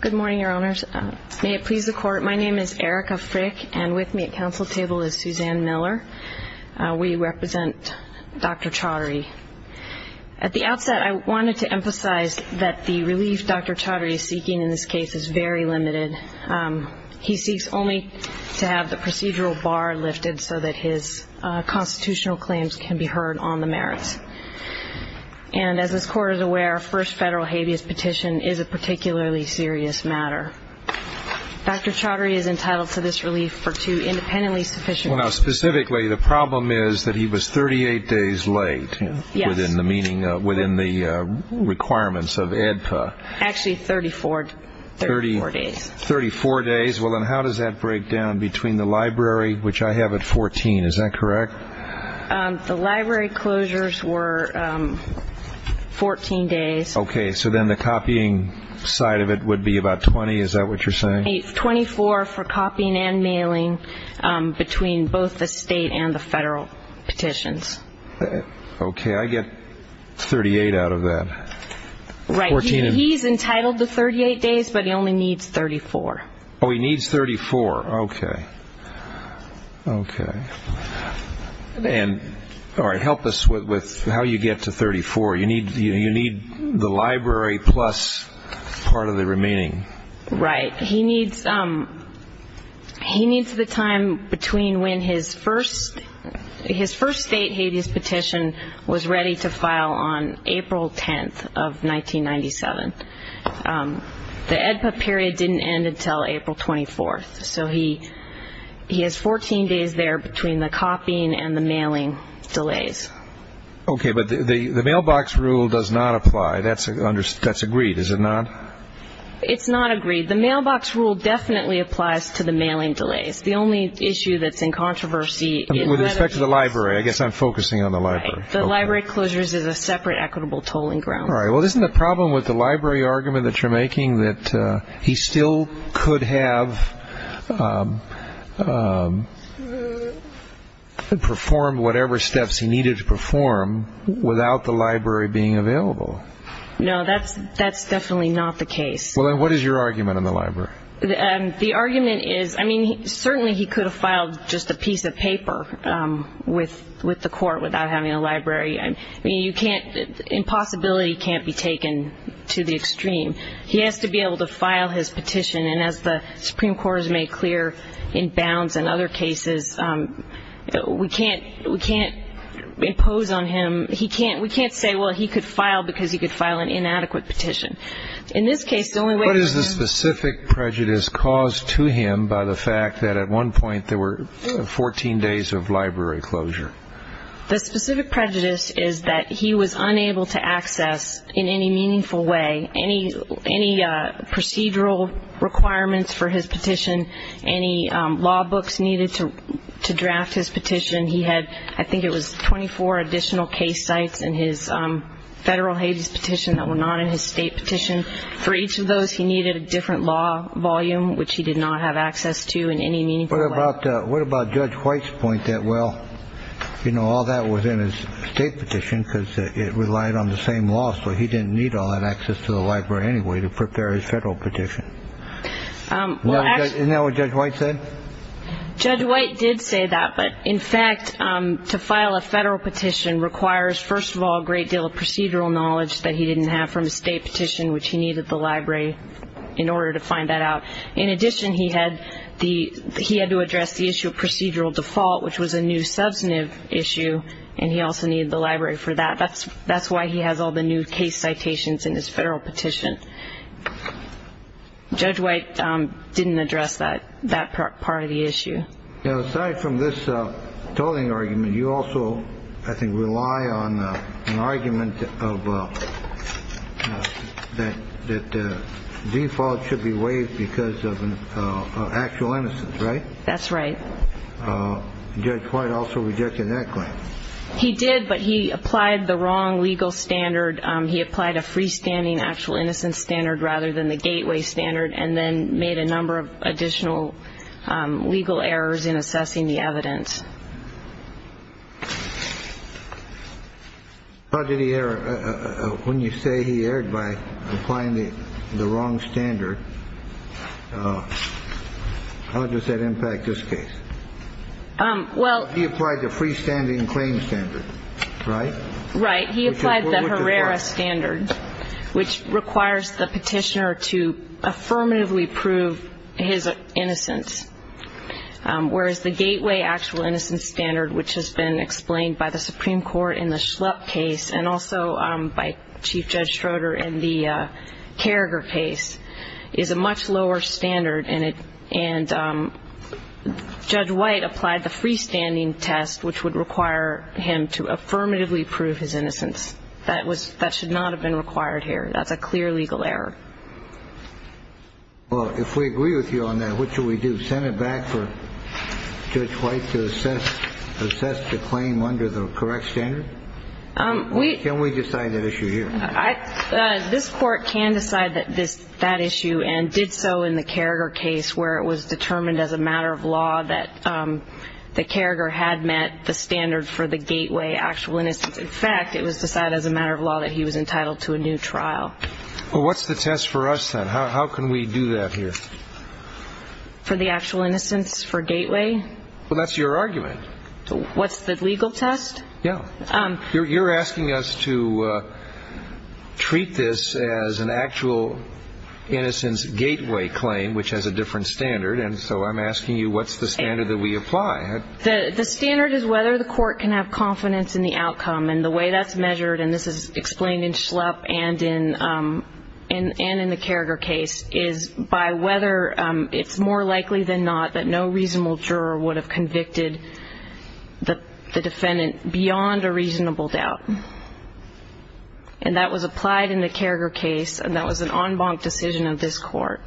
Good morning, Your Honors. May it please the Court, my name is Erica Frick and with me at council table is Suzanne Miller. We represent Dr. Chaudhary. At the outset, I wanted to emphasize that the relief Dr. Chaudhary is seeking in this case is very limited. He seeks only to have the procedural bar lifted so that his constitutional claims can be heard on the merits. And as this Court is aware, a first federal habeas petition is a particularly serious matter. Dr. Chaudhary is entitled to this relief for two independently sufficient reasons. Specifically, the problem is that he was 38 days late within the requirements of AEDPA. Actually, 34 days. 34 days. Well, then how does that break down between the library, which I have at 14, is that correct? The library closures were 14 days. Okay, so then the copying side of it would be about 20, is that what you're saying? 24 for copying and mailing between both the state and the federal petitions. Okay, I get 38 out of that. Right, he's entitled to 38 days, but he only needs 34. Oh, he needs 34. Okay. All right, help us with how you get to 34. You need the library plus part of the remaining. Right, he needs the time between when his first state habeas petition was ready to file on April 10th of 1997. The AEDPA period didn't end until April 24th. So he has 14 days there between the copying and the mailing delays. Okay, but the mailbox rule does not apply. That's agreed, is it not? It's not agreed. The mailbox rule definitely applies to the mailing delays. The only issue that's in controversy is that it's closed. With respect to the library, I guess I'm focusing on the library. Right, the library closures is a separate equitable tolling ground. All right, well, isn't the problem with the library argument that you're making that he still could have performed whatever steps he needed to perform without the library being available? No, that's definitely not the case. Well, then what is your argument in the library? The argument is, I mean, certainly he could have filed just a piece of paper with the court without having a library. I mean, you can't – impossibility can't be taken to the extreme. He has to be able to file his petition. And as the Supreme Court has made clear in Bounds and other cases, we can't impose on him – we can't say, well, he could file because he could file an inadequate petition. In this case, the only way – What is the specific prejudice caused to him by the fact that at one point there were 14 days of library closure? The specific prejudice is that he was unable to access in any meaningful way any procedural requirements for his petition, any law books needed to draft his petition. He had, I think it was 24 additional case sites in his federal Hades petition that were not in his state petition. For each of those, he needed a different law volume, which he did not have access to in any meaningful way. What about Judge White's point that, well, you know, all that was in his state petition because it relied on the same law, so he didn't need all that access to the library anyway to prepare his federal petition? Isn't that what Judge White said? Judge White did say that, but in fact, to file a federal petition requires, first of all, a great deal of procedural knowledge that he didn't have from his state petition, which he needed the library in order to find that out. In addition, he had to address the issue of procedural default, which was a new substantive issue, and he also needed the library for that. That's why he has all the new case citations in his federal petition. Judge White didn't address that part of the issue. Now, aside from this tolling argument, you also, I think, rely on an argument that default should be waived because of actual innocence, right? That's right. Judge White also rejected that claim. He did, but he applied the wrong legal standard. He applied a freestanding actual innocence standard rather than the gateway standard and then made a number of additional legal errors in assessing the evidence. When you say he erred by applying the wrong standard, how does that impact this case? He applied the freestanding claim standard, right? Right. He applied the Herrera standard, which requires the petitioner to affirmatively prove his innocence, whereas the gateway actual innocence standard, which has been explained by the Supreme Court in the Schlupp case and also by Chief Judge Schroeder in the Carragher case, is a much lower standard, and Judge White applied the freestanding test, which would require him to affirmatively prove his innocence. That should not have been required here. That's a clear legal error. Well, if we agree with you on that, what do we do? Send it back for Judge White to assess the claim under the correct standard? Can we decide that issue here? This court can decide that issue and did so in the Carragher case, where it was determined as a matter of law that Carragher had met the standard for the gateway actual innocence. In fact, it was decided as a matter of law that he was entitled to a new trial. Well, what's the test for us then? How can we do that here? For the actual innocence for gateway? Well, that's your argument. What's the legal test? Yeah. You're asking us to treat this as an actual innocence gateway claim, which has a different standard, and so I'm asking you what's the standard that we apply. The standard is whether the court can have confidence in the outcome, and the way that's measured, and this is explained in Schlupp and in the Carragher case, is by whether it's more likely than not that no reasonable juror would have convicted the defendant beyond a reasonable doubt, and that was applied in the Carragher case, and that was an en banc decision of this court.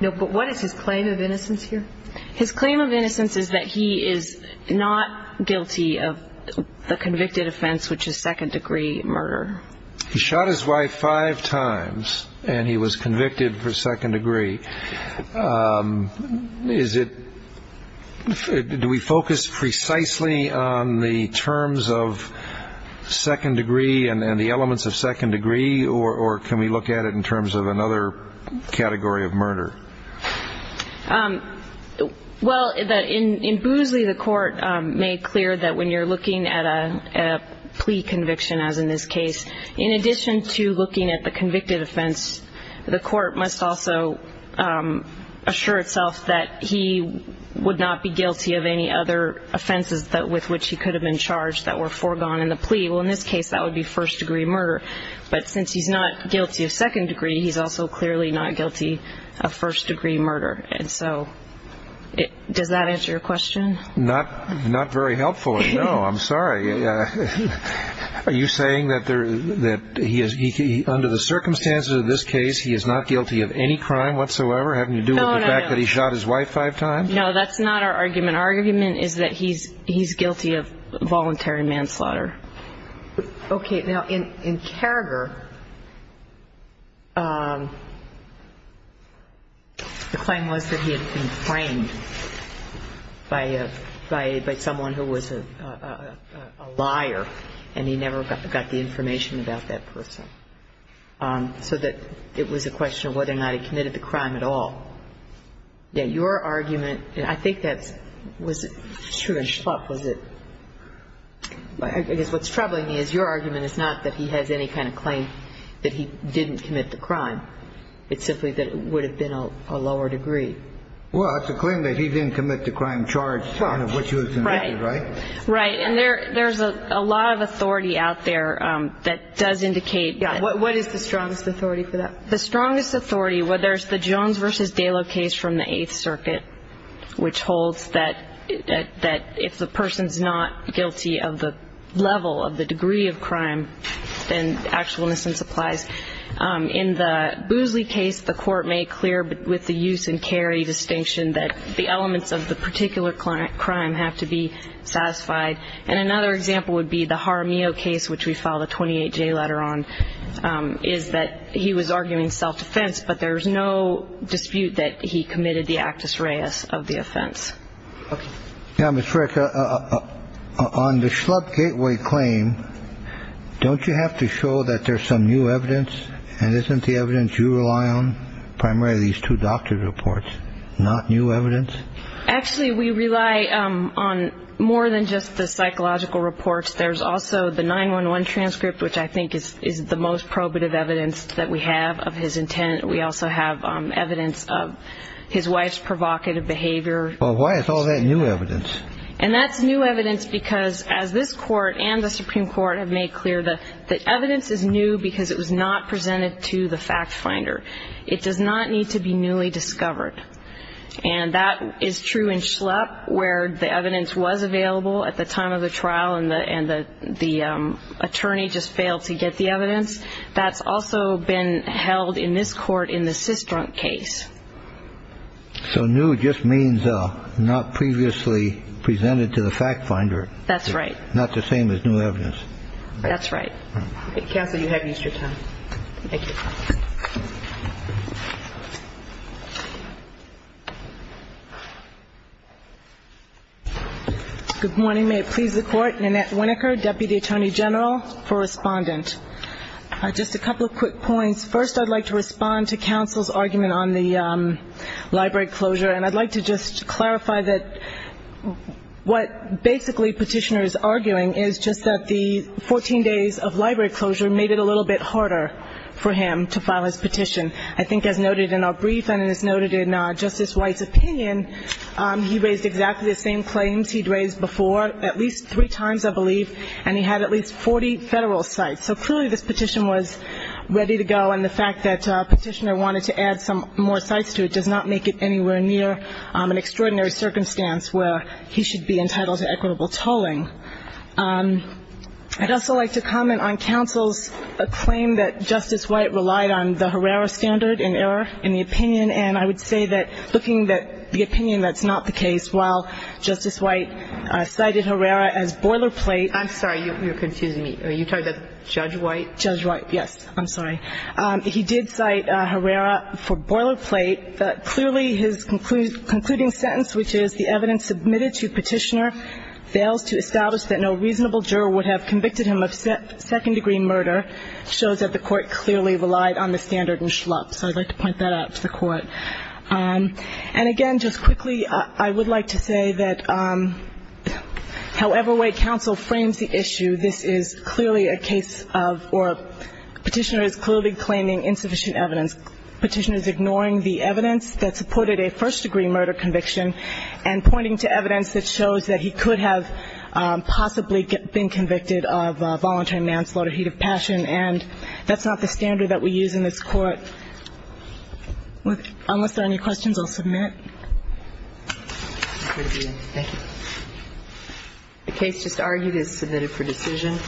No, but what is his claim of innocence here? His claim of innocence is that he is not guilty of the convicted offense, which is second-degree murder. He shot his wife five times, and he was convicted for second degree. Is it do we focus precisely on the terms of second degree and the elements of second degree, or can we look at it in terms of another category of murder? Well, in Boozley, the court made clear that when you're looking at a plea conviction, as in this case, in addition to looking at the convicted offense, the court must also assure itself that he would not be guilty of any other offenses with which he could have been charged that were foregone in the plea. Well, in this case, that would be first-degree murder, but since he's not guilty of second degree, he's also clearly not guilty of first-degree murder. And so does that answer your question? Not very helpfully, no. I'm sorry. Are you saying that under the circumstances of this case, he is not guilty of any crime whatsoever, having to do with the fact that he shot his wife five times? No, that's not our argument. Our argument is that he's guilty of voluntary manslaughter. Okay. Now, in Carragher, the claim was that he had been framed by someone who was a liar, and he never got the information about that person, so that it was a question of whether or not he committed the crime at all. Yeah, your argument, and I think that was true in Schlupf, was it? I guess what's troubling me is your argument is not that he has any kind of claim that he didn't commit the crime. It's simply that it would have been a lower degree. Well, it's a claim that he didn't commit the crime charged in which he was convicted, right? Right. And there's a lot of authority out there that does indicate that. Yeah. What is the strongest authority for that? The strongest authority, whether it's the Jones v. Dalo case from the Eighth Circuit, which holds that if the person's not guilty of the level, of the degree of crime, then actualness and supplies. In the Boosley case, the court made clear with the use and carry distinction that the elements of the particular crime have to be satisfied. And another example would be the Jaramillo case, which we filed a 28-J letter on, is that he was arguing self-defense, but there's no dispute that he committed the actus reus of the offense. Okay. Yeah, Ms. Frick, on the Schlupf gateway claim, don't you have to show that there's some new evidence, and isn't the evidence you rely on primarily these two doctor reports, not new evidence? Actually, we rely on more than just the psychological reports. There's also the 911 transcript, which I think is the most probative evidence that we have of his intent. We also have evidence of his wife's provocative behavior. Well, why is all that new evidence? And that's new evidence because, as this court and the Supreme Court have made clear, the evidence is new because it was not presented to the fact finder. It does not need to be newly discovered. And that is true in Schlupf, where the evidence was available at the time of the trial and the attorney just failed to get the evidence. That's also been held in this court in the Sistrunk case. So new just means not previously presented to the fact finder. That's right. Not the same as new evidence. That's right. Counsel, you have used your time. Thank you. Thank you. Good morning. May it please the Court. Nanette Winokur, Deputy Attorney General for Respondent. Just a couple of quick points. First, I'd like to respond to counsel's argument on the library closure, and I'd like to just clarify that what basically Petitioner is arguing is just that the 14 days of library closure made it a little bit harder for him to file his petition. I think as noted in our brief and as noted in Justice White's opinion, he raised exactly the same claims he'd raised before at least three times, I believe, and he had at least 40 federal sites. So clearly this petition was ready to go, and the fact that Petitioner wanted to add some more sites to it does not make it anywhere near an extraordinary circumstance where he should be entitled to equitable tolling. I'd also like to comment on counsel's claim that Justice White relied on the Herrera standard in error in the opinion, and I would say that looking at the opinion that's not the case, while Justice White cited Herrera as boilerplate. I'm sorry. You're confusing me. Are you talking about Judge White? Judge White, yes. I'm sorry. He did cite Herrera for boilerplate, but clearly his concluding sentence, which is the evidence submitted to Petitioner fails to establish that no reasonable juror would have convicted him of second-degree murder, shows that the court clearly relied on the standard in schlupf. So I'd like to point that out to the court. And again, just quickly, I would like to say that however way counsel frames the issue, this is clearly a case of or Petitioner is clearly claiming insufficient evidence. Petitioner is ignoring the evidence that supported a first-degree murder conviction and pointing to evidence that shows that he could have possibly been convicted of voluntary manslaughter, heat of passion, and that's not the standard that we use in this court. Unless there are any questions, I'll submit. Thank you. The case just argued is submitted for decision.